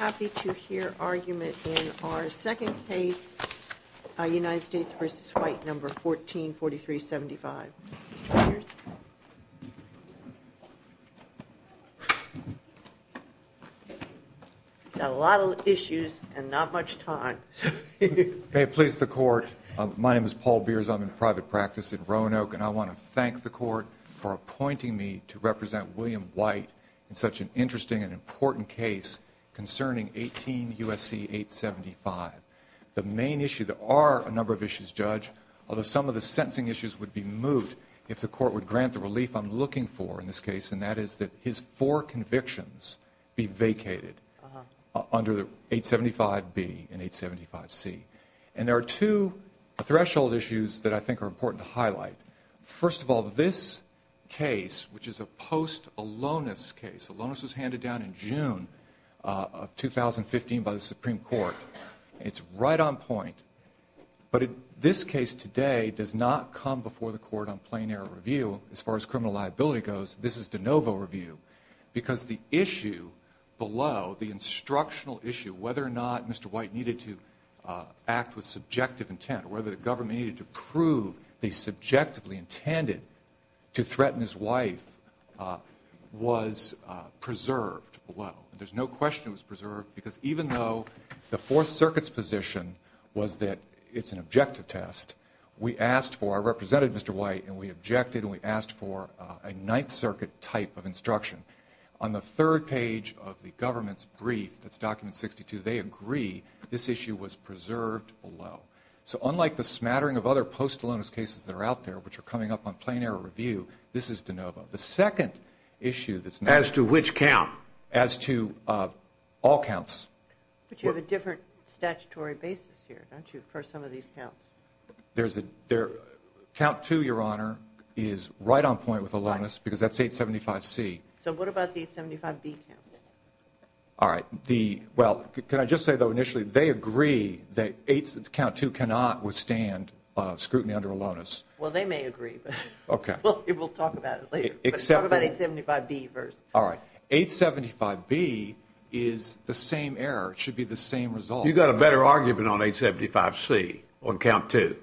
I'm happy to hear argument in our second case, United States v. White, No. 14-4375. A lot of issues and not much time. May it please the Court. My name is Paul Beers. I'm in private practice in Roanoke, and I want to thank the Court for appointing me to represent William White in such an interesting and important case concerning 18 U.S.C. 875. The main issue, there are a number of issues, Judge, although some of the sentencing issues would be moved if the Court would grant the relief I'm looking for in this case, and that is that his four convictions be vacated under 875B and 875C. And there are two threshold issues that I think are important to highlight. First of all, this case, which is a post-Alonis case, Alonis was handed down in June of 2015 by the Supreme Court. It's right on point. But this case today does not come before the Court on plain error review, as far as criminal liability goes. This is de novo review because the issue below, the instructional issue, whether or not Mr. White needed to act with subjective intent or whether the government needed to prove they subjectively intended to threaten his wife, was preserved below. There's no question it was preserved, because even though the Fourth Circuit's position was that it's an objective test, we asked for, I represented Mr. White, and we objected, and we asked for a Ninth Circuit type of instruction. On the third page of the government's brief, that's document 62, they agree this issue was preserved below. So unlike the smattering of other post-Alonis cases that are out there, which are coming up on plain error review, this is de novo. The second issue that's now. As to which count? As to all counts. But you have a different statutory basis here, don't you, for some of these counts? Count 2, Your Honor, is right on point with Alonis because that's 875C. So what about the 875B count? All right. Well, can I just say, though, initially, they agree that count 2 cannot withstand scrutiny under Alonis. Well, they may agree, but we'll talk about it later. Talk about 875B first. All right. 875B is the same error. It should be the same result. You've got a better argument on 875C on count 2.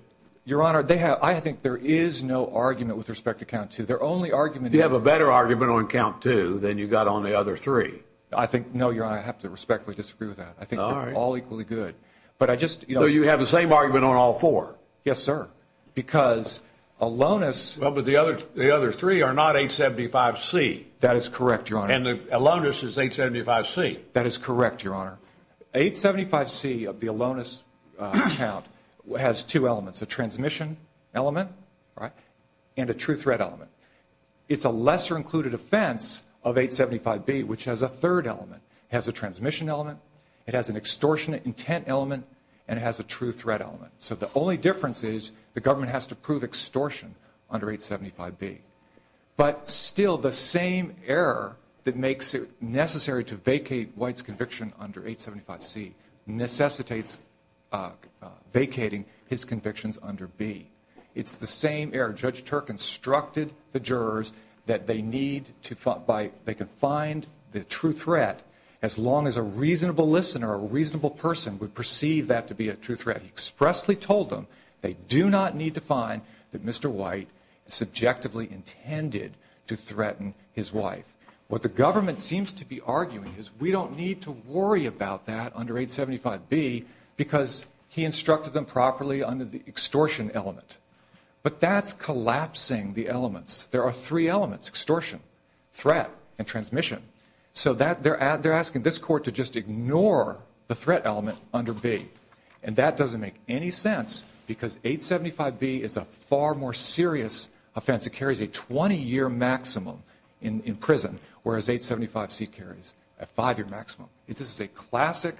Your Honor, I think there is no argument with respect to count 2. Their only argument is. You have a better argument on count 2 than you've got on the other three. I think, no, Your Honor, I have to respectfully disagree with that. I think they're all equally good. But I just. So you have the same argument on all four? Yes, sir. Because Alonis. Well, but the other three are not 875C. That is correct, Your Honor. And Alonis is 875C. That is correct, Your Honor. 875C of the Alonis count has two elements, a transmission element and a true threat element. It's a lesser included offense of 875B, which has a third element. It has a transmission element. It has an extortionate intent element. And it has a true threat element. So the only difference is the government has to prove extortion under 875B. But still the same error that makes it necessary to vacate White's conviction under 875C necessitates vacating his convictions under B. It's the same error. Judge Turk instructed the jurors that they need to find the true threat as long as a reasonable listener, a reasonable person, would perceive that to be a true threat. He expressly told them they do not need to find that Mr. White subjectively intended to threaten his wife. What the government seems to be arguing is we don't need to worry about that under 875B because he instructed them properly under the extortion element. But that's collapsing the elements. There are three elements, extortion, threat, and transmission. So they're asking this court to just ignore the threat element under B. And that doesn't make any sense because 875B is a far more serious offense. It carries a 20-year maximum in prison, whereas 875C carries a five-year maximum. This is a classic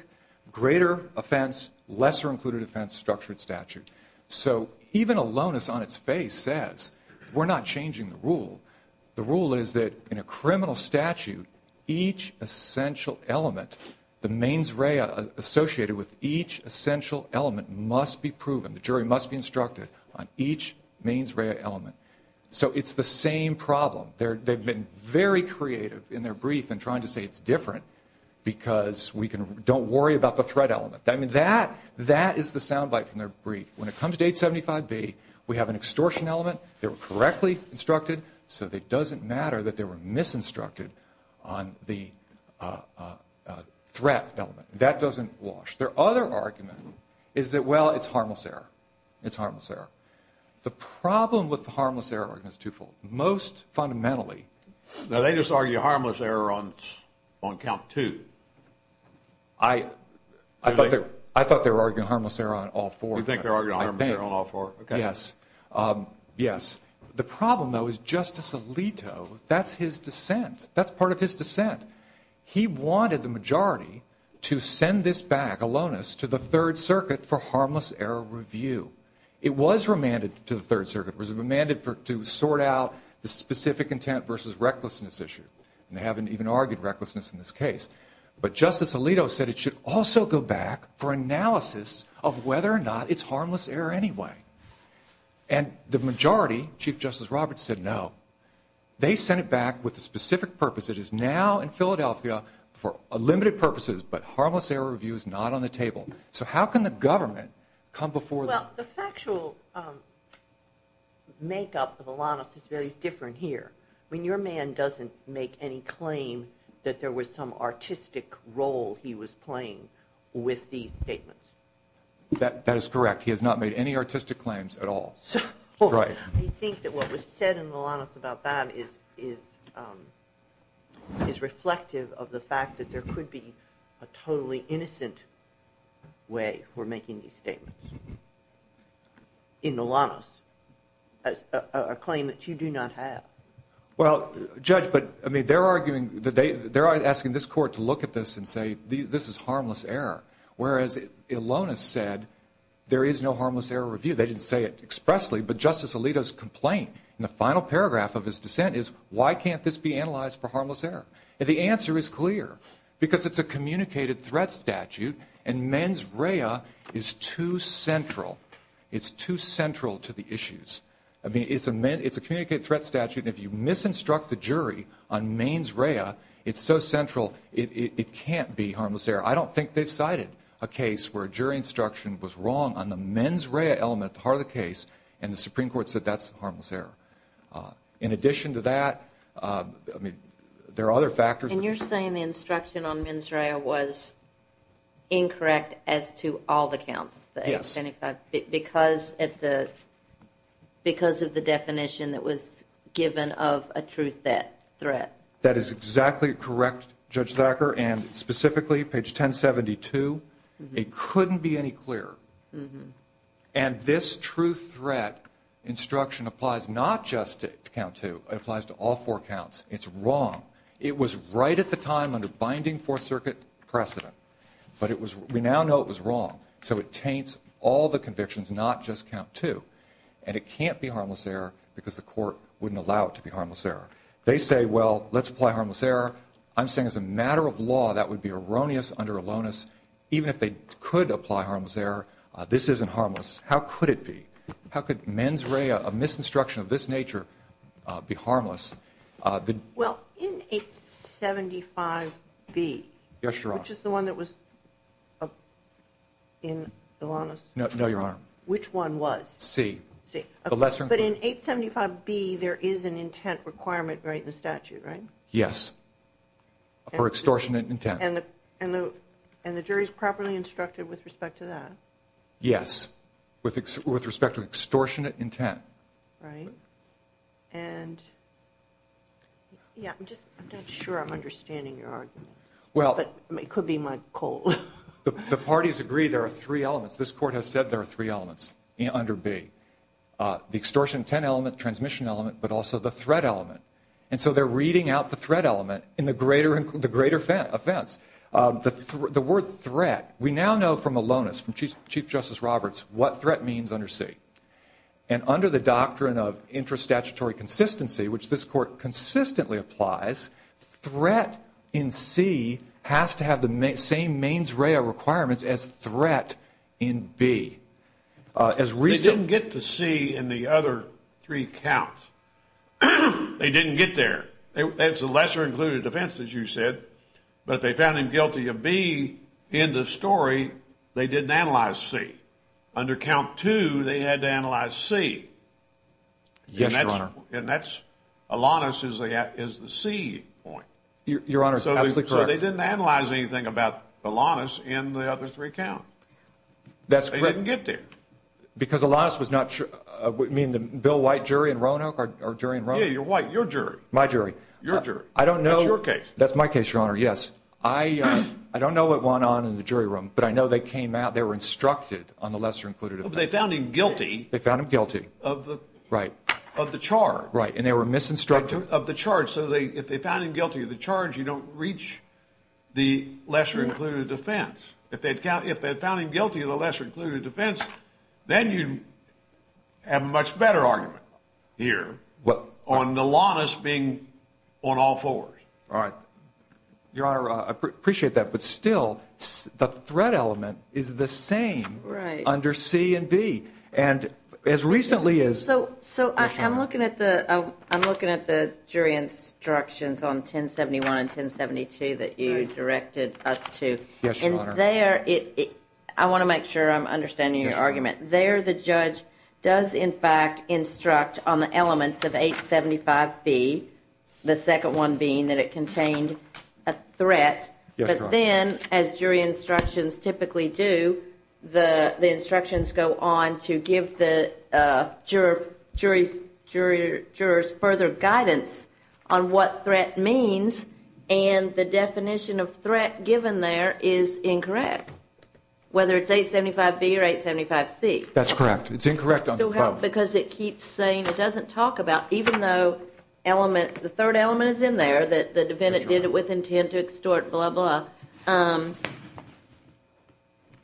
greater offense, lesser included offense structured statute. So even aloneness on its face says we're not changing the rule. The rule is that in a criminal statute, each essential element, the mains rea associated with each essential element must be proven. The jury must be instructed on each mains rea element. So it's the same problem. They've been very creative in their brief in trying to say it's different because we don't worry about the threat element. I mean, that is the sound bite from their brief. When it comes to 875B, we have an extortion element. They were correctly instructed. So it doesn't matter that they were misinstructed on the threat element. That doesn't wash. Their other argument is that, well, it's harmless error. It's harmless error. The problem with the harmless error argument is twofold. Most fundamentally. Now, they just argue harmless error on count two. I thought they were arguing harmless error on all four. You think they're arguing harmless error on all four? Yes. Yes. The problem, though, is Justice Alito, that's his dissent. That's part of his dissent. He wanted the majority to send this back, aloneness, to the Third Circuit for harmless error review. It was remanded to the Third Circuit. It was remanded to sort out the specific intent versus recklessness issue. And they haven't even argued recklessness in this case. But Justice Alito said it should also go back for analysis of whether or not it's harmless error anyway. And the majority, Chief Justice Roberts said no. They sent it back with a specific purpose. It is now in Philadelphia for limited purposes, but harmless error review is not on the table. So how can the government come before them? Well, the factual makeup of aloneness is very different here. I mean, your man doesn't make any claim that there was some artistic role he was playing with these statements. That is correct. He has not made any artistic claims at all. I think that what was said in the aloneness about that is reflective of the fact that there could be a totally innocent way for making these statements. In aloneness, a claim that you do not have. Well, Judge, but, I mean, they're arguing, they're asking this court to look at this and say this is harmless error. Whereas aloneness said there is no harmless error review. They didn't say it expressly. But Justice Alito's complaint in the final paragraph of his dissent is why can't this be analyzed for harmless error? And the answer is clear, because it's a communicated threat statute, and mens rea is too central. It's too central to the issues. I mean, it's a communicated threat statute, and if you misinstruct the jury on mens rea, it's so central, it can't be harmless error. I don't think they've cited a case where a jury instruction was wrong on the mens rea element part of the case, and the Supreme Court said that's harmless error. In addition to that, I mean, there are other factors. And you're saying the instruction on mens rea was incorrect as to all the counts? Yes. Because of the definition that was given of a truth threat? That is exactly correct, Judge Thacker, and specifically, page 1072, it couldn't be any clearer. And this truth threat instruction applies not just to count two, it applies to all four counts. It's wrong. It was right at the time under binding Fourth Circuit precedent, but we now know it was wrong. So it taints all the convictions, not just count two. And it can't be harmless error because the court wouldn't allow it to be harmless error. They say, well, let's apply harmless error. I'm saying as a matter of law, that would be erroneous under Alonis. Even if they could apply harmless error, this isn't harmless. How could it be? How could mens rea, a misinstruction of this nature, be harmless? Well, in 875B, which is the one that was in Alonis? No, Your Honor. Which one was? C. But in 875B, there is an intent requirement right in the statute, right? Yes, for extortionate intent. And the jury is properly instructed with respect to that? Yes, with respect to extortionate intent. Right. And, yeah, I'm just not sure I'm understanding your argument, but it could be my cold. The parties agree there are three elements. This court has said there are three elements under B, the extortion intent element, transmission element, but also the threat element. And so they're reading out the threat element in the greater offense. The word threat, we now know from Alonis, from Chief Justice Roberts, what threat means under C. And under the doctrine of intra-statutory consistency, which this court consistently applies, threat in C has to have the same mens rea requirements as threat in B. They didn't get the C in the other three counts. They didn't get there. It's a lesser-included offense, as you said, but they found him guilty of B in the story. They didn't analyze C. Under count two, they had to analyze C. Yes, Your Honor. And that's Alonis is the C point. Your Honor, absolutely correct. So they didn't analyze anything about Alonis in the other three counts. They didn't get there. Because Alonis was not sure. You mean the Bill White jury in Roanoke or jury in Roanoke? Yeah, your jury. My jury. Your jury. I don't know. That's your case. That's my case, Your Honor, yes. I don't know what went on in the jury room, but I know they came out. They were instructed on the lesser-included offense. But they found him guilty. They found him guilty. Of the charge. Right. And they were misinstructed. Of the charge. So if they found him guilty of the charge, you don't reach the lesser-included offense. If they found him guilty of the lesser-included offense, then you have a much better argument here on Alonis being on all fours. All right. Your Honor, I appreciate that. But still, the threat element is the same under C and B. And as recently as. So I'm looking at the jury instructions on 1071 and 1072 that you directed us to. Yes, Your Honor. And there. I want to make sure I'm understanding your argument. Yes, Your Honor. There the judge does in fact instruct on the elements of 875B. The second one being that it contained a threat. Yes, Your Honor. But then, as jury instructions typically do, the instructions go on to give the jury's further guidance on what threat means. And the definition of threat given there is incorrect. Whether it's 875B or 875C. That's correct. It's incorrect on both. Because it keeps saying it doesn't talk about, even though the third element is in there, that the defendant did it with intent to extort, blah, blah.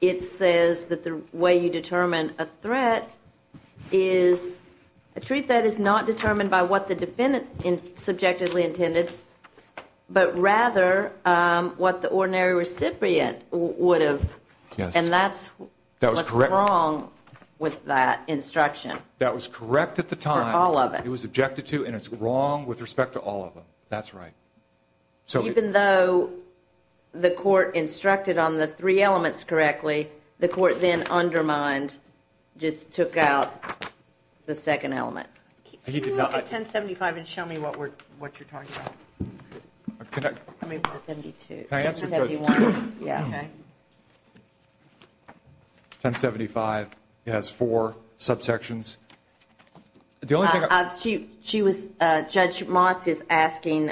It says that the way you determine a threat is a truth that is not determined by what the defendant subjectively intended, but rather what the ordinary recipient would have. Yes. And that's what's wrong with that instruction. That was correct at the time. For all of it. It was objected to, and it's wrong with respect to all of them. That's right. Even though the court instructed on the three elements correctly, the court then undermined, just took out the second element. Can you look at 1075 and show me what you're talking about? Can I answer? Yes. Okay. 1075 has four subsections. Judge Motz is asking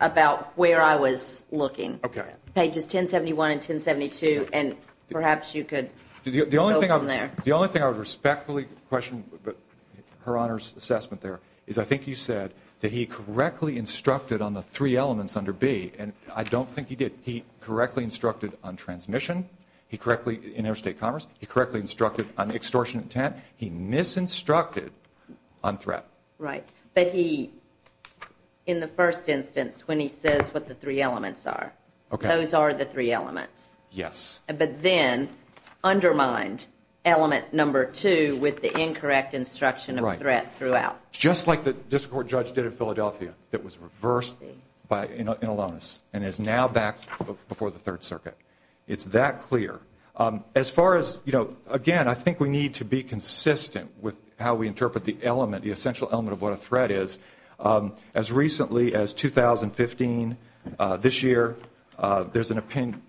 about where I was looking. Okay. Pages 1071 and 1072, and perhaps you could go from there. The only thing I would respectfully question her Honor's assessment there is I think you said that he correctly instructed on the three elements under B, and I don't think he did. He correctly instructed on transmission in interstate commerce. He correctly instructed on extortion intent. He misinstructed on threat. Right. But he, in the first instance, when he says what the three elements are, those are the three elements. Yes. But then undermined element number two with the incorrect instruction of threat throughout. Right. Just like the district court judge did in Philadelphia that was reversed in Alonis and is now back before the Third Circuit. It's that clear. As far as, you know, again, I think we need to be consistent with how we interpret the element, the essential element of what a threat is. As recently as 2015, this year, there's an opinion,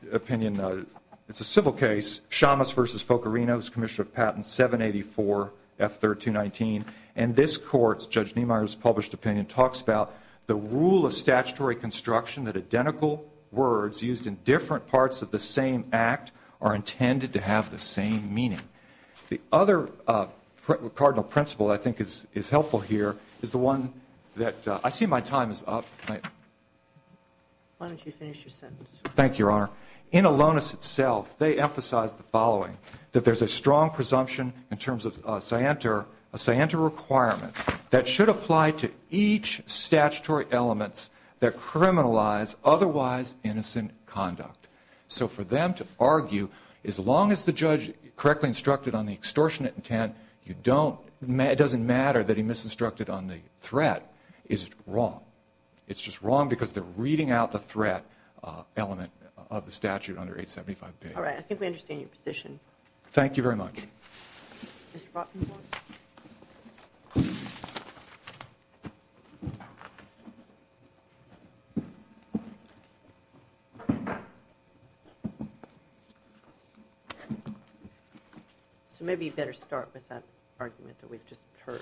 it's a civil case, Shamus v. Focorino, who's Commissioner of Patents, 784 F-1319, and this court's, Judge Niemeyer's, published opinion talks about the rule of statutory construction that identical words used in different parts of the same act are intended to have the same meaning. The other cardinal principle I think is helpful here is the one that I see my time is up. Why don't you finish your sentence? Thank you, Your Honor. In Alonis itself, they emphasize the following, that there's a strong presumption in terms of scienter, a scienter requirement that should apply to each statutory elements that criminalize otherwise innocent conduct. So for them to argue, as long as the judge correctly instructed on the extortionate intent, it doesn't matter that he misinstructed on the threat, is wrong. It's just wrong because they're reading out the threat element of the statute under 875B. All right. I think we understand your position. Thank you very much. Ms. Rottenborn. So maybe you better start with that argument that we've just heard.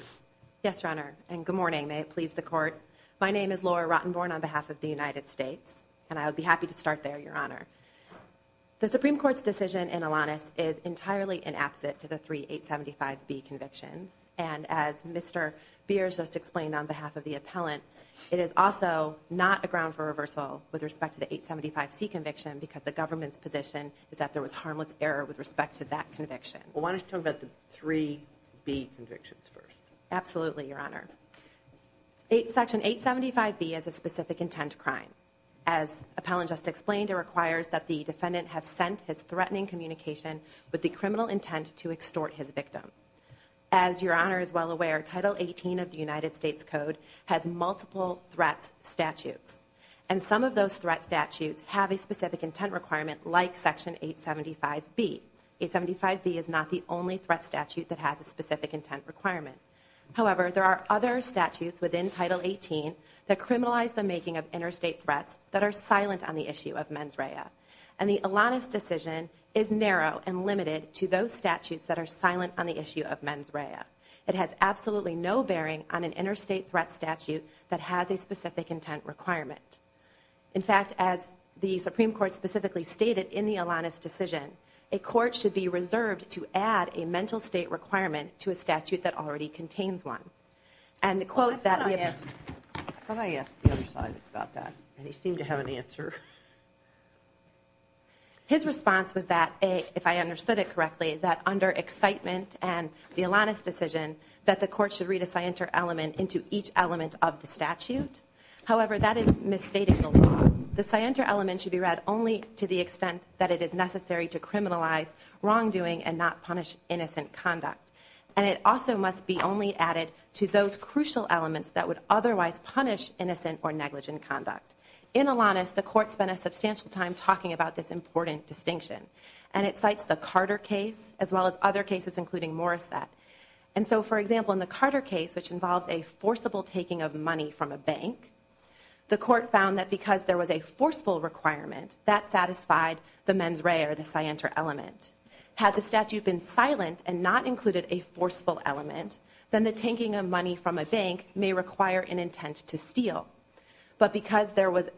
Yes, Your Honor, and good morning. May it please the Court. My name is Laura Rottenborn on behalf of the United States, and I would be happy to start there, Your Honor. The Supreme Court's decision in Alonis is entirely inapposite to the three 875B convictions, and as Mr. Beers just explained on behalf of the appellant, it is also not a ground for reversal with respect to the 875C conviction because the government's position is that there was harmless error with respect to that conviction. Why don't you talk about the three B convictions first? Absolutely, Your Honor. Section 875B is a specific intent crime. As the appellant just explained, it requires that the defendant have sent his threatening communication with the criminal intent to extort his victim. As Your Honor is well aware, Title 18 of the United States Code has multiple threats statutes, and some of those threat statutes have a specific intent requirement like Section 875B. 875B is not the only threat statute that has a specific intent requirement. However, there are other statutes within Title 18 that criminalize the making of interstate threats that are silent on the issue of mens rea, and the Alonis decision is narrow and limited to those statutes that are silent on the issue of mens rea. It has absolutely no bearing on an interstate threat statute that has a specific intent requirement. In fact, as the Supreme Court specifically stated in the Alonis decision, a court should be reserved to add a mental state requirement to a statute that already contains one. And the quote that we have... Can I ask the other side about that? They seem to have an answer. His response was that, if I understood it correctly, that under excitement and the Alonis decision, that the court should read a scienter element into each element of the statute. However, that is misstating the law. The scienter element should be read only to the extent that it is necessary to criminalize wrongdoing and not punish innocent conduct. And it also must be only added to those crucial elements that would otherwise punish innocent or negligent conduct. In Alonis, the court spent a substantial time talking about this important distinction, and it cites the Carter case as well as other cases, including Morissette. And so, for example, in the Carter case, which involves a forcible taking of money from a bank, the court found that because there was a forceful requirement, that satisfied the mens rea or the scienter element. Had the statute been silent and not included a forceful element, then the taking of money from a bank may require an intent to steal. But because there was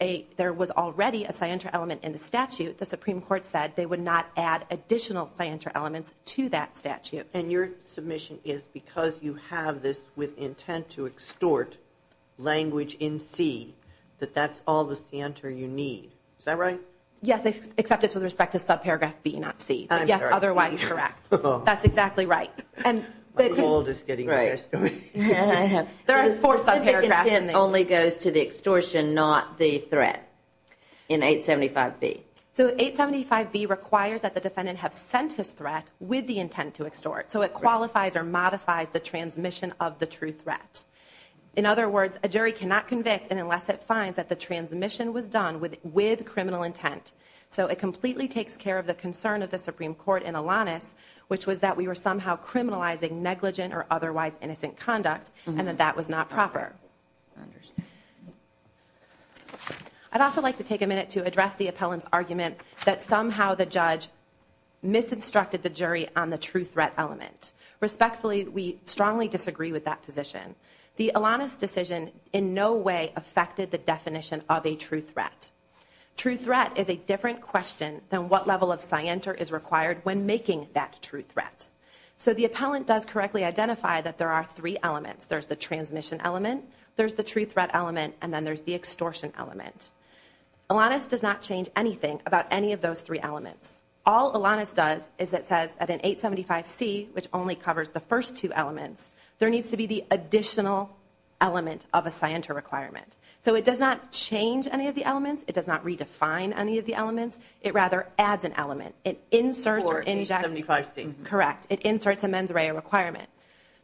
already a scienter element in the statute, the Supreme Court said they would not add additional scienter elements to that statute. And your submission is because you have this with intent to extort language in C, that that's all the scienter you need. Is that right? Yes, except it's with respect to subparagraph B, not C. But yes, otherwise correct. That's exactly right. There are four subparagraphs. The specific intent only goes to the extortion, not the threat in 875B. So 875B requires that the defendant have sent his threat with the intent to extort. So it qualifies or modifies the transmission of the true threat. In other words, a jury cannot convict unless it finds that the transmission was done with criminal intent. So it completely takes care of the concern of the Supreme Court in Alanis, which was that we were somehow criminalizing negligent or otherwise innocent conduct and that that was not proper. I'd also like to take a minute to address the appellant's argument that somehow the judge misconstructed the jury on the true threat element. Respectfully, we strongly disagree with that position. The Alanis decision in no way affected the definition of a true threat. True threat is a different question than what level of scienter is required when making that true threat. So the appellant does correctly identify that there are three elements. There's the transmission element, there's the true threat element, and then there's the extortion element. Alanis does not change anything about any of those three elements. All Alanis does is it says at an 875C, which only covers the first two elements, there needs to be the additional element of a scienter requirement. So it does not change any of the elements. It does not redefine any of the elements. It rather adds an element. It inserts or injects. Correct. It inserts a mens rea requirement.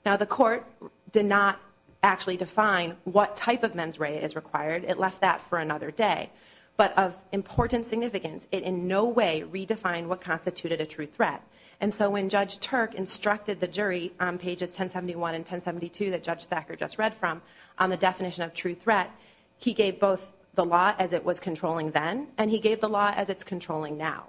Now, the court did not actually define what type of mens rea is required. It left that for another day. But of important significance, it in no way redefined what constituted a true threat. And so when Judge Turk instructed the jury on pages 1071 and 1072 that Judge Thacker just read from, on the definition of true threat, he gave both the law as it was controlling then and he gave the law as it's controlling now.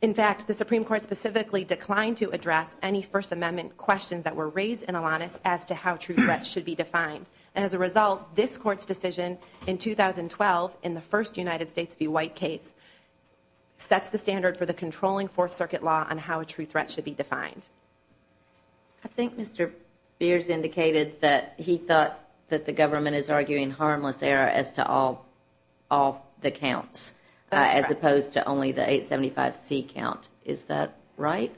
In fact, the Supreme Court specifically declined to address any First Amendment questions that were raised in Alanis as to how true threats should be defined. And as a result, this Court's decision in 2012 in the first United States v. White case sets the standard for the controlling Fourth Circuit law on how a true threat should be defined. I think Mr. Beers indicated that he thought that the government is arguing harmless error as to all the counts as opposed to only the 875C count. Is that right?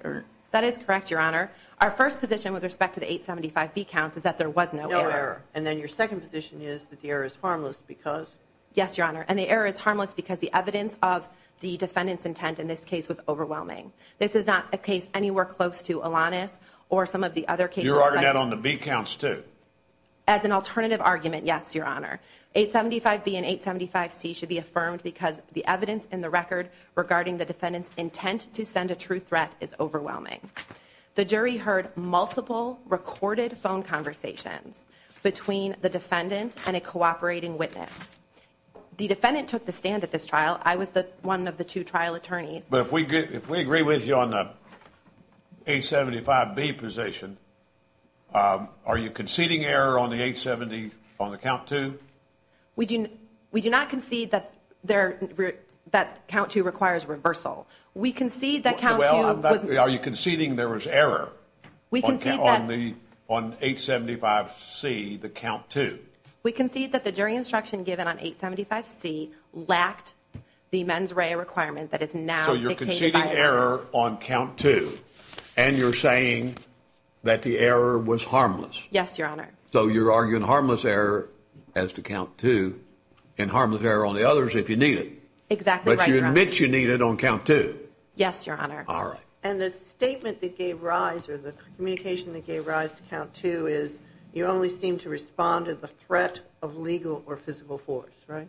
That is correct, Your Honor. Our first position with respect to the 875B counts is that there was no error. And then your second position is that the error is harmless because? Yes, Your Honor. And the error is harmless because the evidence of the defendant's intent in this case was overwhelming. This is not a case anywhere close to Alanis or some of the other cases. You're arguing that on the B counts too? As an alternative argument, yes, Your Honor. 875B and 875C should be affirmed because the evidence in the record regarding the defendant's intent to send a true threat is overwhelming. The jury heard multiple recorded phone conversations between the defendant and a cooperating witness. The defendant took the stand at this trial. I was one of the two trial attorneys. But if we agree with you on the 875B position, are you conceding error on the 870 on the count two? We do not concede that count two requires reversal. Are you conceding there was error on 875C, the count two? We concede that the jury instruction given on 875C lacked the mens rea requirement that is now dictated by the jury. So you're conceding error on count two and you're saying that the error was harmless? Yes, Your Honor. So you're arguing harmless error as to count two and harmless error on the others if you need it? Exactly right, Your Honor. But you admit you need it on count two? Yes, Your Honor. All right. And the statement that gave rise or the communication that gave rise to count two is you only seem to respond to the threat of legal or physical force, right?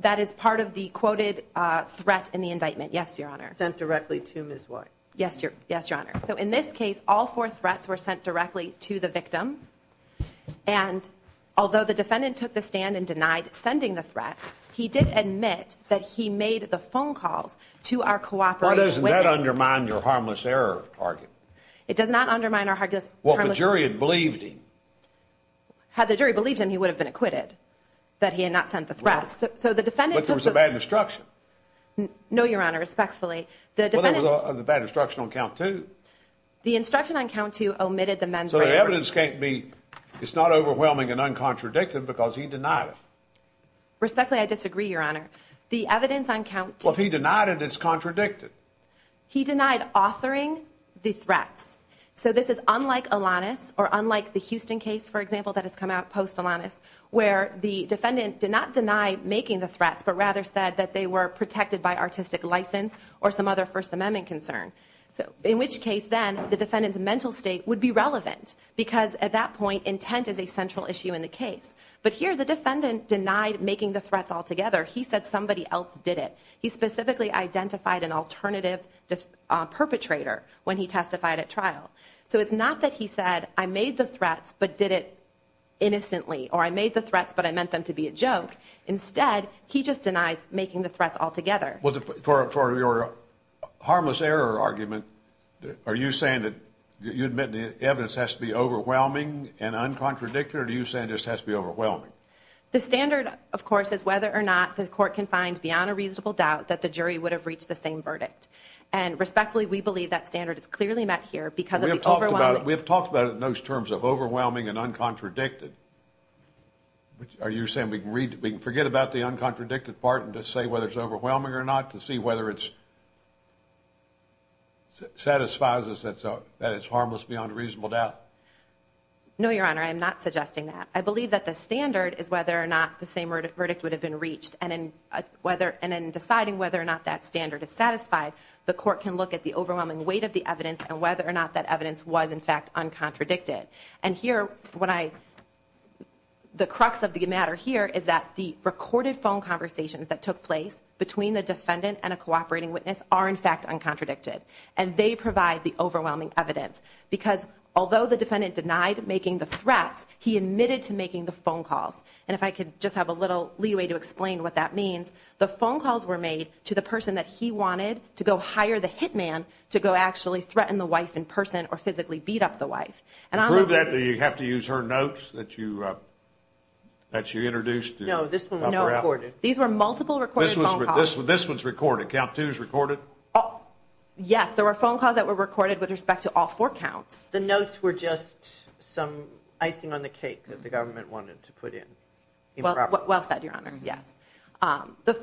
That is part of the quoted threat in the indictment, yes, Your Honor. Sent directly to Ms. White? Yes, Your Honor. So in this case, all four threats were sent directly to the victim. And although the defendant took the stand and denied sending the threat, he did admit that he made the phone calls to our cooperating witness. Why doesn't that undermine your harmless error argument? It does not undermine our harmless error argument. Well, if the jury had believed him. Had the jury believed him, he would have been acquitted that he had not sent the threat. But there was a bad instruction. No, Your Honor, respectfully. Well, there was a bad instruction on count two. The instruction on count two omitted the mens rea requirement. So the evidence can't be, it's not overwhelming and uncontradicted because he denied it. Respectfully, I disagree, Your Honor. The evidence on count two. Well, if he denied it, it's contradicted. He denied authoring the threats. So this is unlike Alanis or unlike the Houston case, for example, that has come out post-Alanis, where the defendant did not deny making the threats but rather said that they were protected by artistic license or some other First Amendment concern. In which case, then, the defendant's mental state would be relevant because at that point, intent is a central issue in the case. But here, the defendant denied making the threats altogether. He said somebody else did it. He specifically identified an alternative perpetrator when he testified at trial. So it's not that he said, I made the threats but did it innocently or I made the threats but I meant them to be a joke. Instead, he just denies making the threats altogether. Well, for your harmless error argument, are you saying that you admit the evidence has to be overwhelming and uncontradicted or are you saying it just has to be overwhelming? The standard, of course, is whether or not the court can find beyond a reasonable doubt that the jury would have reached the same verdict. And respectfully, we believe that standard is clearly met here because of the overwhelming. We have talked about it in those terms of overwhelming and uncontradicted. Are you saying we can forget about the uncontradicted part and just say whether it's overwhelming or not to see whether it satisfies us that it's harmless beyond a reasonable doubt? No, Your Honor, I am not suggesting that. I believe that the standard is whether or not the same verdict would have been reached. And in deciding whether or not that standard is satisfied, the court can look at the overwhelming weight of the evidence and whether or not that evidence was, in fact, uncontradicted. And here, the crux of the matter here is that the recorded phone conversations that took place between the defendant and a cooperating witness are, in fact, uncontradicted. And they provide the overwhelming evidence. Because although the defendant denied making the threats, he admitted to making the phone calls. And if I could just have a little leeway to explain what that means, the phone calls were made to the person that he wanted to go hire the hit man to go actually threaten the wife in person or physically beat up the wife. And prove that, do you have to use her notes that you introduced? No, this one was not recorded. These were multiple recorded phone calls. This one's recorded. Count two is recorded. Yes, there were phone calls that were recorded with respect to all four counts. The notes were just some icing on the cake that the government wanted to put in. Well said, Your Honor, yes.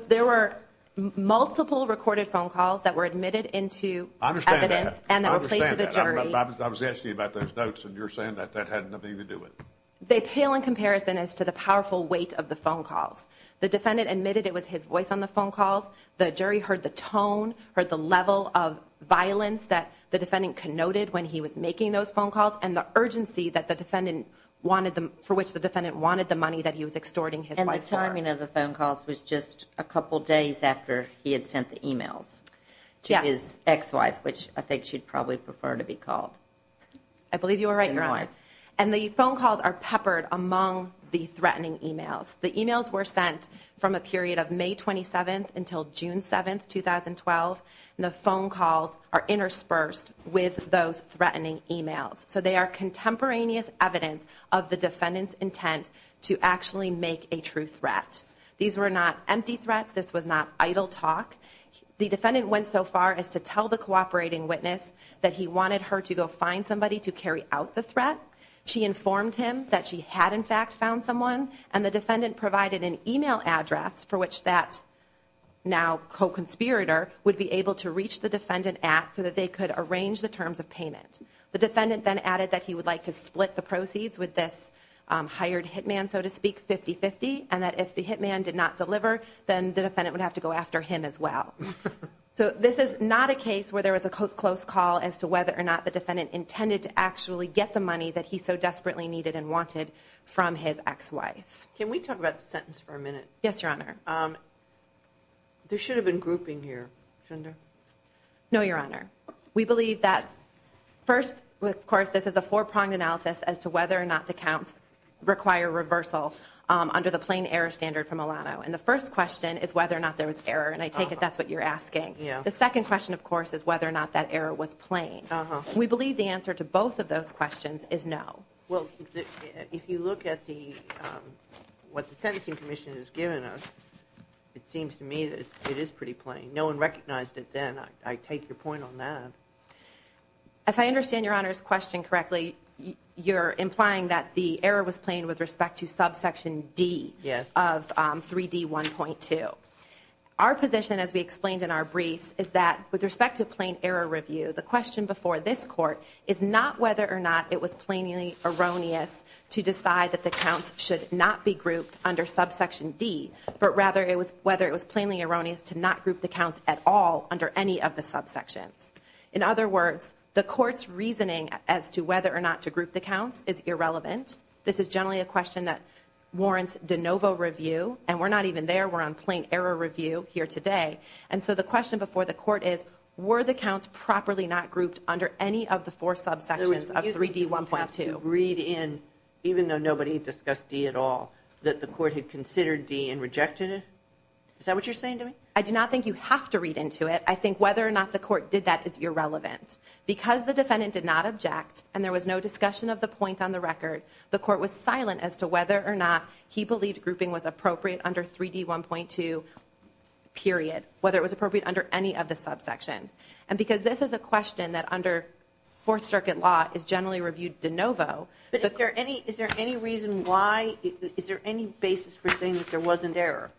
There were multiple recorded phone calls that were admitted into evidence. I understand that. And they were played to the jury. I understand that. I was asking you about those notes, and you're saying that that had nothing to do with it. They pale in comparison as to the powerful weight of the phone calls. The defendant admitted it was his voice on the phone calls. The jury heard the tone, heard the level of violence that the defendant connoted when he was making those phone calls, and the urgency for which the defendant wanted the money that he was extorting his wife for. And the timing of the phone calls was just a couple days after he had sent the emails to his ex-wife, which I think she'd probably prefer to be called. I believe you are right, Your Honor. And the phone calls are peppered among the threatening emails. The emails were sent from a period of May 27 until June 7, 2012. And the phone calls are interspersed with those threatening emails. So they are contemporaneous evidence of the defendant's intent to actually make a true threat. These were not empty threats. This was not idle talk. The defendant went so far as to tell the cooperating witness that he wanted her to go find somebody to carry out the threat. She informed him that she had, in fact, found someone. And the defendant provided an email address for which that now co-conspirator would be able to reach the defendant at so that they could arrange the terms of payment. The defendant then added that he would like to split the proceeds with this hired hitman, so to speak, 50-50, and that if the hitman did not deliver, then the defendant would have to go after him as well. So this is not a case where there was a close call as to whether or not the defendant intended to actually get the money that he so desperately needed and wanted from his ex-wife. Can we talk about the sentence for a minute? Yes, Your Honor. There should have been grouping here, shouldn't there? No, Your Honor. We believe that first, of course, this is a four-pronged analysis as to whether or not the counts require reversal under the plain error standard from Alano. And the first question is whether or not there was error, and I take it that's what you're asking. The second question, of course, is whether or not that error was plain. We believe the answer to both of those questions is no. Well, if you look at what the sentencing commission has given us, it seems to me that it is pretty plain. No one recognized it then. I take your point on that. If I understand Your Honor's question correctly, you're implying that the error was plain with respect to subsection D of 3D1.2. Our position, as we explained in our briefs, is that with respect to plain error review, the question before this Court is not whether or not it was plainly erroneous to decide that the counts should not be grouped under subsection D, but rather whether it was plainly erroneous to not group the counts at all under any of the subsections. In other words, the Court's reasoning as to whether or not to group the counts is irrelevant. This is generally a question that warrants de novo review, and we're not even there. We're on plain error review here today. And so the question before the Court is, were the counts properly not grouped under any of the four subsections of 3D1.2? You have to read in, even though nobody discussed D at all, that the Court had considered D and rejected it? Is that what you're saying to me? I do not think you have to read into it. I think whether or not the Court did that is irrelevant. Because the defendant did not object, and there was no discussion of the point on the record, the Court was silent as to whether or not he believed grouping was appropriate under 3D1.2, period, whether it was appropriate under any of the subsections. And because this is a question that under Fourth Circuit law is generally reviewed de novo. But is there any reason why? Is there any basis for saying that there wasn't error?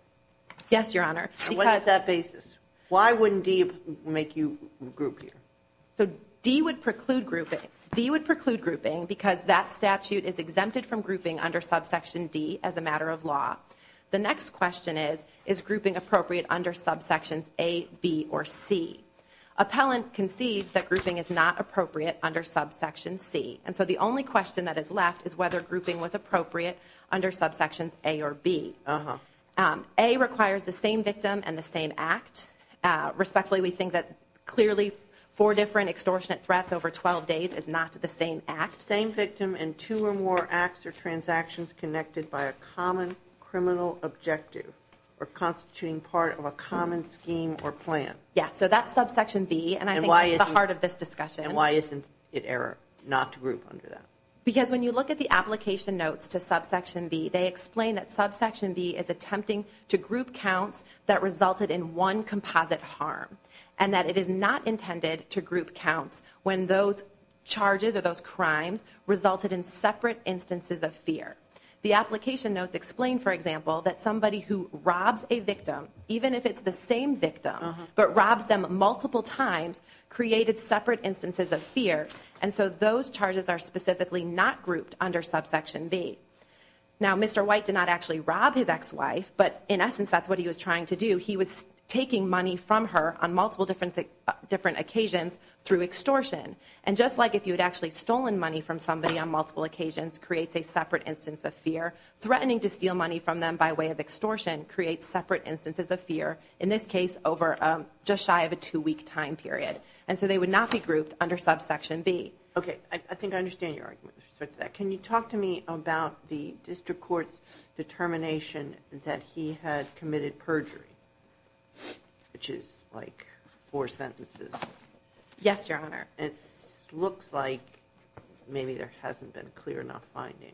Yes, Your Honor. And what is that basis? Why wouldn't D make you group here? So D would preclude grouping because that statute is exempted from grouping under subsection D as a matter of law. The next question is, is grouping appropriate under subsections A, B, or C? Appellant concedes that grouping is not appropriate under subsection C. And so the only question that is left is whether grouping was appropriate under subsections A or B. A requires the same victim and the same act. Respectfully, we think that clearly four different extortionate threats over 12 days is not the same act. Same victim and two or more acts or transactions connected by a common criminal objective or constituting part of a common scheme or plan. Yes, so that's subsection B, and I think that's the heart of this discussion. And why isn't it error not to group under that? Because when you look at the application notes to subsection B, they explain that subsection B is attempting to group counts that resulted in one composite harm and that it is not intended to group counts when those charges or those crimes resulted in separate instances of fear. The application notes explain, for example, that somebody who robs a victim, even if it's the same victim but robs them multiple times, created separate instances of fear. And so those charges are specifically not grouped under subsection B. Now, Mr. White did not actually rob his ex-wife, but in essence that's what he was trying to do. He was taking money from her on multiple different occasions through extortion. And just like if you had actually stolen money from somebody on multiple occasions, creates a separate instance of fear, threatening to steal money from them by way of extortion creates separate instances of fear, in this case over just shy of a two-week time period. And so they would not be grouped under subsection B. Okay, I think I understand your argument with respect to that. Can you talk to me about the district court's determination that he had committed perjury, which is like four sentences. Yes, Your Honor. It looks like maybe there hasn't been a clear enough finding.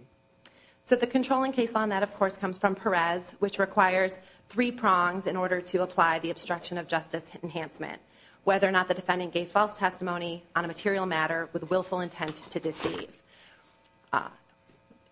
So the controlling case on that, of course, comes from Perez, which requires three prongs in order to apply the obstruction of justice enhancement, whether or not the defendant gave false testimony on a material matter with willful intent to deceive.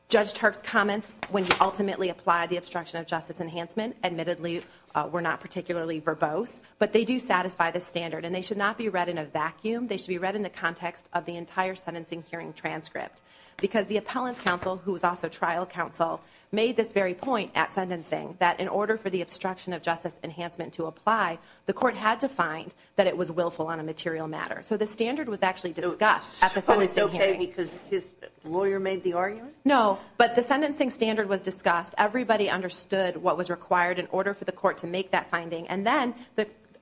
Judge Turk's comments when he ultimately applied the obstruction of justice enhancement, admittedly were not particularly verbose, but they do satisfy the standard, and they should not be read in a vacuum. They should be read in the context of the entire sentencing hearing transcript, because the appellant's counsel, who was also trial counsel, made this very point at sentencing that in order for the obstruction of justice enhancement to apply, the court had to find that it was willful on a material matter. So the standard was actually discussed at the sentencing hearing. So it's okay because his lawyer made the argument? No, but the sentencing standard was discussed. Everybody understood what was required in order for the court to make that finding. And then,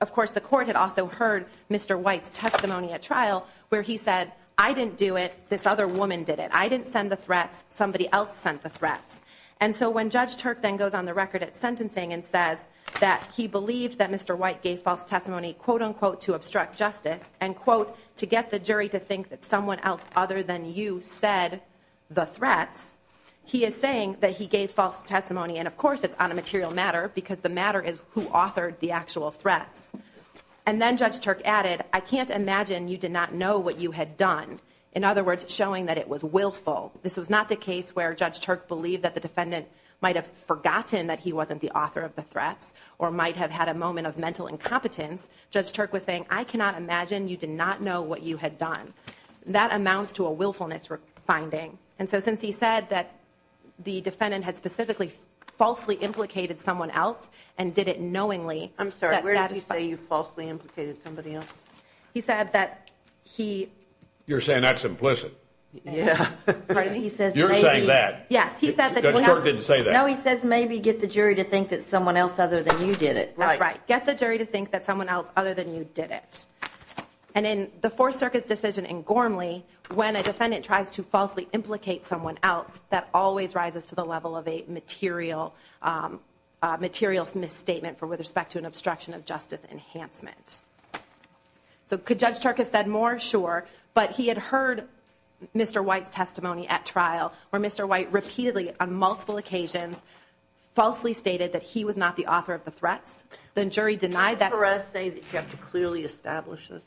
of course, the court had also heard Mr. White's testimony at trial, where he said, I didn't do it. This other woman did it. I didn't send the threats. Somebody else sent the threats. And so when Judge Turk then goes on the record at sentencing and says that he believed that Mr. White gave false testimony, quote, unquote, to obstruct justice and, quote, to get the jury to think that someone else other than you said the threats, he is saying that he gave false testimony. And, of course, it's on a material matter because the matter is who authored the actual threats. And then Judge Turk added, I can't imagine you did not know what you had done, in other words, showing that it was willful. This was not the case where Judge Turk believed that the defendant might have forgotten that he wasn't the author of the threats or might have had a moment of mental incompetence. Judge Turk was saying, I cannot imagine you did not know what you had done. That amounts to a willfulness finding. And so since he said that the defendant had specifically falsely implicated someone else and did it knowingly. I'm sorry, where did he say you falsely implicated somebody else? He said that he... You're saying that's implicit. Yeah. Pardon me? You're saying that. Yes, he said that he... Judge Turk didn't say that. No, he says maybe get the jury to think that someone else other than you did it. That's right. Get the jury to think that someone else other than you did it. And in the Fourth Circuit's decision in Gormley, when a defendant tries to falsely implicate someone else, that always rises to the level of a material misstatement with respect to an obstruction of justice enhancement. So could Judge Turk have said more? Sure. But he had heard Mr. White's testimony at trial, where Mr. White repeatedly, on multiple occasions, falsely stated that he was not the author of the threats. The jury denied that... Can you for us say that you have to clearly establish this?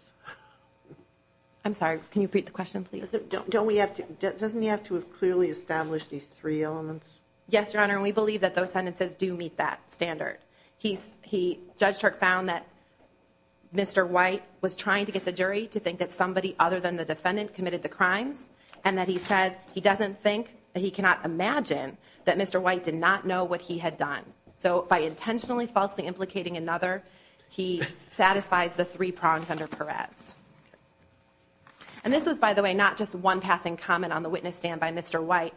I'm sorry, can you repeat the question, please? Doesn't he have to have clearly established these three elements? Yes, Your Honor, and we believe that those sentences do meet that standard. Judge Turk found that Mr. White was trying to get the jury to think that somebody other than the defendant committed the crimes, and that he says he doesn't think, he cannot imagine, that Mr. White did not know what he had done. So by intentionally falsely implicating another, he satisfies the three prongs under Perez. And this was, by the way, not just one passing comment on the witness stand by Mr. White.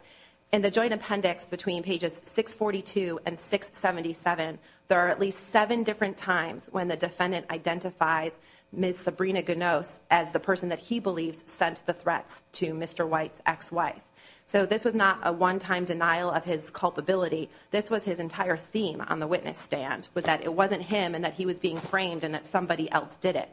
In the joint appendix between pages 642 and 677, there are at least seven different times when the defendant identifies Ms. Sabrina Ganos as the person that he believes sent the threats to Mr. White's ex-wife. So this was not a one-time denial of his culpability. This was his entire theme on the witness stand, was that it wasn't him, and that he was being framed, and that somebody else did it.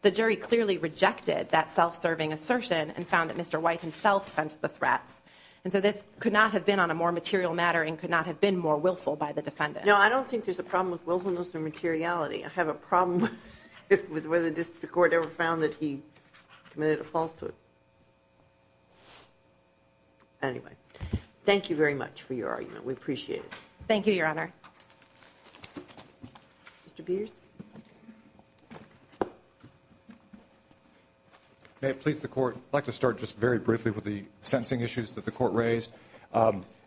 The jury clearly rejected that self-serving assertion and found that Mr. White himself sent the threats. And so this could not have been on a more material matter and could not have been more willful by the defendant. No, I don't think there's a problem with willfulness or materiality. I have a problem with whether the court ever found that he committed a falsehood. Anyway, thank you very much for your argument. We appreciate it. Thank you, Your Honor. Mr. Peters? May it please the Court, I'd like to start just very briefly with the sentencing issues that the Court raised.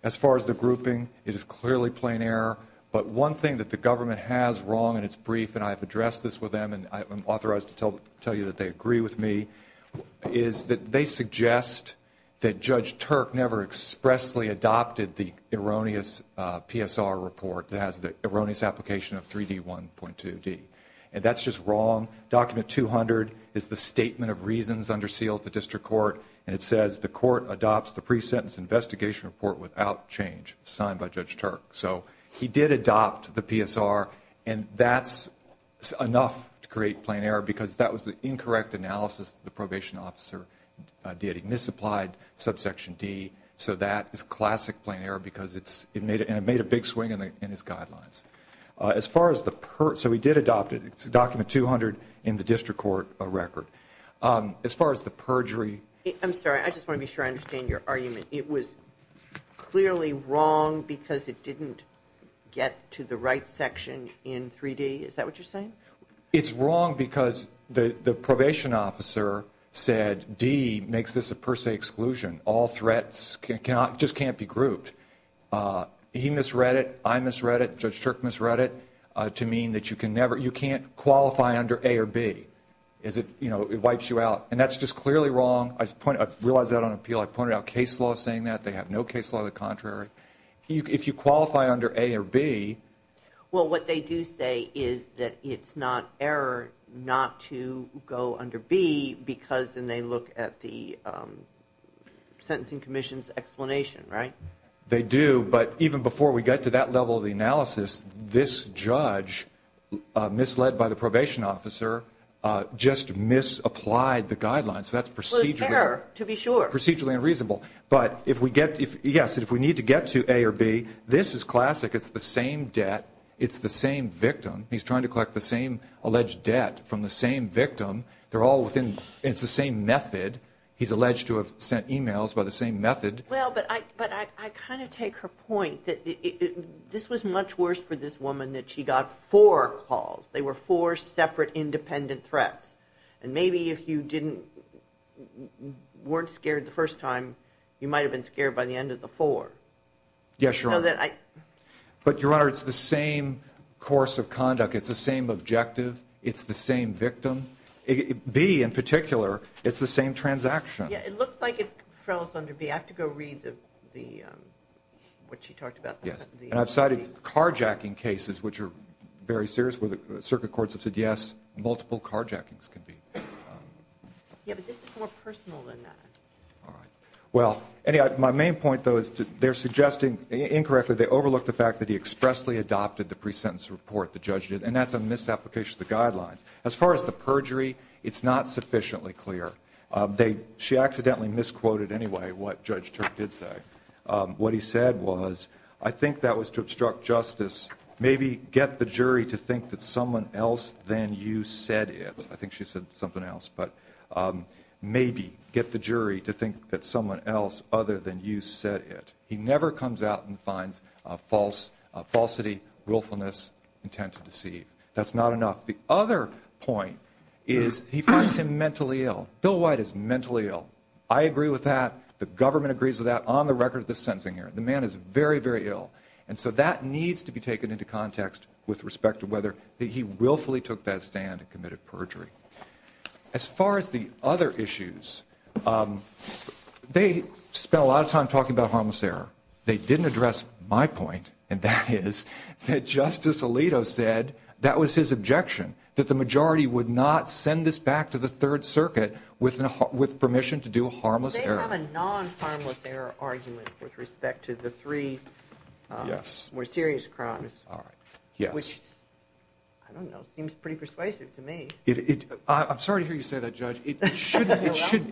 As far as the grouping, it is clearly plain error, but one thing that the government has wrong in its brief, and I've addressed this with them, and I'm authorized to tell you that they agree with me, is that they suggest that Judge Turk never expressly adopted the erroneous PSR report that has the erroneous application of 3D1.2. And that's just wrong. Document 200 is the statement of reasons under seal at the district court, and it says the court adopts the pre-sentence investigation report without change, signed by Judge Turk. So he did adopt the PSR, and that's enough to create plain error because that was the incorrect analysis that the probation officer did. He misapplied subsection D, so that is classic plain error because it made a big swing in his guidelines. So he did adopt it. It's Document 200 in the district court record. As far as the perjury. I'm sorry. I just want to be sure I understand your argument. It was clearly wrong because it didn't get to the right section in 3D. Is that what you're saying? It's wrong because the probation officer said D makes this a per se exclusion. All threats just can't be grouped. He misread it. I misread it. Judge Turk misread it to mean that you can't qualify under A or B. It wipes you out, and that's just clearly wrong. I realize that on appeal. I pointed out case law saying that. They have no case law the contrary. If you qualify under A or B. Well, what they do say is that it's not error not to go under B because then they look at the sentencing commission's explanation, right? They do. But even before we got to that level of the analysis, this judge misled by the probation officer just misapplied the guidelines. So that's procedurally unreasonable. But, yes, if we need to get to A or B, this is classic. It's the same debt. It's the same victim. He's trying to collect the same alleged debt from the same victim. It's the same method. He's alleged to have sent e-mails by the same method. Well, but I kind of take her point that this was much worse for this woman that she got four calls. They were four separate independent threats. And maybe if you weren't scared the first time, you might have been scared by the end of the four. Yes, Your Honor. But, Your Honor, it's the same course of conduct. It's the same objective. It's the same victim. B, in particular, it's the same transaction. Yeah, it looks like it fells under B. I have to go read what she talked about. Yes, and I've cited carjacking cases, which are very serious, where the circuit courts have said, yes, multiple carjackings can be. Yeah, but this is more personal than that. All right. Well, my main point, though, is they're suggesting, incorrectly, they overlooked the fact that he expressly adopted the pre-sentence report the judge did, and that's a misapplication of the guidelines. As far as the perjury, it's not sufficiently clear. She accidentally misquoted, anyway, what Judge Turk did say. What he said was, I think that was to obstruct justice. Maybe get the jury to think that someone else than you said it. I think she said something else. But maybe get the jury to think that someone else other than you said it. He never comes out and finds falsity, willfulness, intent to deceive. That's not enough. The other point is he finds him mentally ill. Bill White is mentally ill. I agree with that. The government agrees with that on the record of this sentencing hearing. The man is very, very ill. And so that needs to be taken into context with respect to whether he willfully took that stand and committed perjury. As far as the other issues, they spent a lot of time talking about harmless error. They didn't address my point, and that is that Justice Alito said that was his projection, that the majority would not send this back to the Third Circuit with permission to do harmless error. They have a non-harmless error argument with respect to the three more serious crimes. All right. Yes. Which, I don't know, seems pretty persuasive to me. I'm sorry to hear you say that, Judge. It shouldn't persuade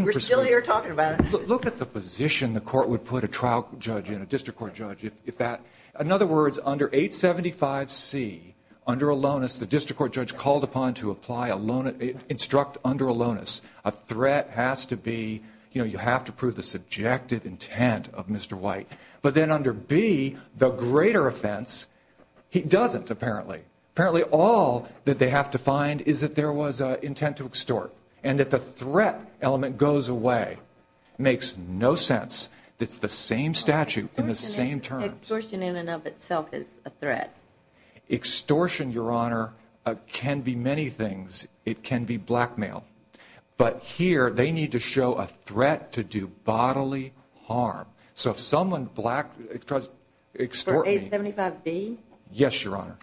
me. We're still here talking about it. Look at the position the court would put a trial judge in, a district court judge, if that ñ in other words, under 875C, under a lonus, the district court judge called upon to apply a ñ instruct under a lonus a threat has to be, you know, you have to prove the subjective intent of Mr. White. But then under B, the greater offense, he doesn't, apparently. Apparently all that they have to find is that there was intent to extort and that the threat element goes away. It makes no sense. It's the same statute in the same terms. Extortion in and of itself is a threat. Extortion, Your Honor, can be many things. It can be blackmail. But here they need to show a threat to do bodily harm. So if someone black ñ extorts me. For 875B? Yes, Your Honor.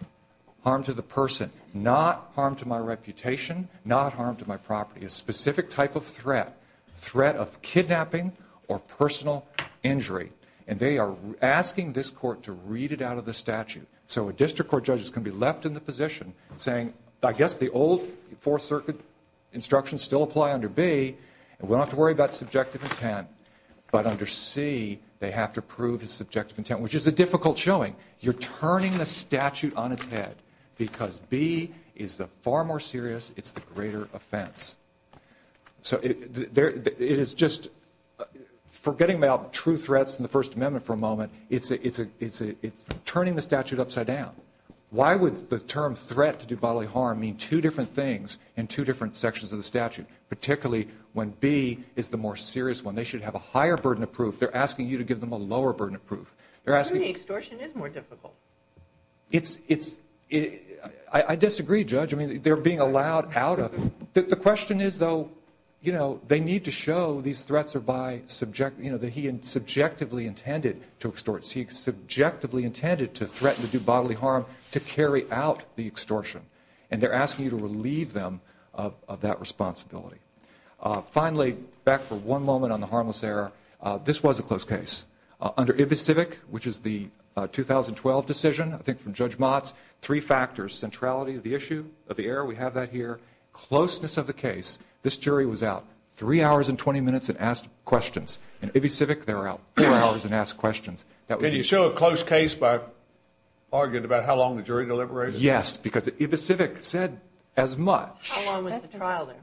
Harm to the person. Not harm to my reputation, not harm to my property. A specific type of threat, threat of kidnapping or personal injury. And they are asking this court to read it out of the statute. So a district court judge is going to be left in the position saying, I guess the old Fourth Circuit instructions still apply under B, and we don't have to worry about subjective intent. But under C, they have to prove his subjective intent, which is a difficult showing. You're turning the statute on its head because B is the far more serious, it's the greater offense. So it is just forgetting about true threats in the First Amendment for a moment, it's turning the statute upside down. Why would the term threat to do bodily harm mean two different things in two different sections of the statute, particularly when B is the more serious one? They should have a higher burden of proof. They're asking you to give them a lower burden of proof. To me, extortion is more difficult. I disagree, Judge. I mean, they're being allowed out of it. The question is, though, you know, they need to show these threats are by, you know, that he subjectively intended to extort. He subjectively intended to threaten to do bodily harm to carry out the extortion. And they're asking you to relieve them of that responsibility. Finally, back for one moment on the harmless error, this was a close case. Under IBICIVIC, which is the 2012 decision, I think from Judge Motz, three factors, centrality of the issue, of the error, we have that here, closeness of the case, this jury was out three hours and 20 minutes and asked questions. In IBICIVIC, they were out three hours and asked questions. Can you show a close case by arguing about how long the jury deliberated? Yes, because IBICIVIC said as much. How long was the trial there?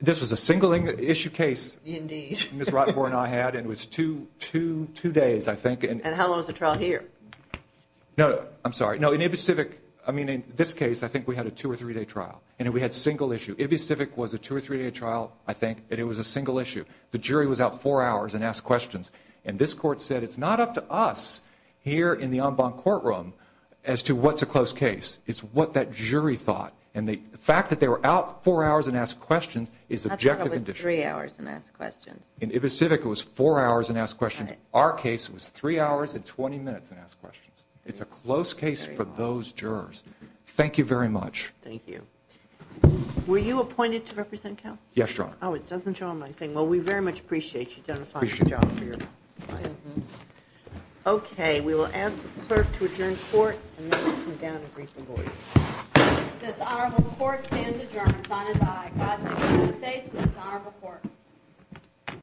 This was a single-issue case Ms. Rothborn and I had, and it was two days, I think. And how long was the trial here? No, I'm sorry. No, in IBICIVIC, I mean, in this case, I think we had a two- or three-day trial, and we had single-issue. IBICIVIC was a two- or three-day trial, I think, and it was a single-issue. The jury was out four hours and asked questions. And this Court said it's not up to us here in the En Bon courtroom as to what's a close case. It's what that jury thought. And the fact that they were out four hours and asked questions is objective. I thought it was three hours and asked questions. In IBICIVIC, it was four hours and asked questions. Our case was three hours and 20 minutes and asked questions. It's a close case for those jurors. Thank you very much. Thank you. Were you appointed to represent count? Yes, Your Honor. Oh, it doesn't show on my thing. Well, we very much appreciate you identifying the job for your client. Okay. We will ask the clerk to adjourn court and then we'll come down and brief the board. This honorable court stands adjourned, sign as I. God save the United States and this honorable court.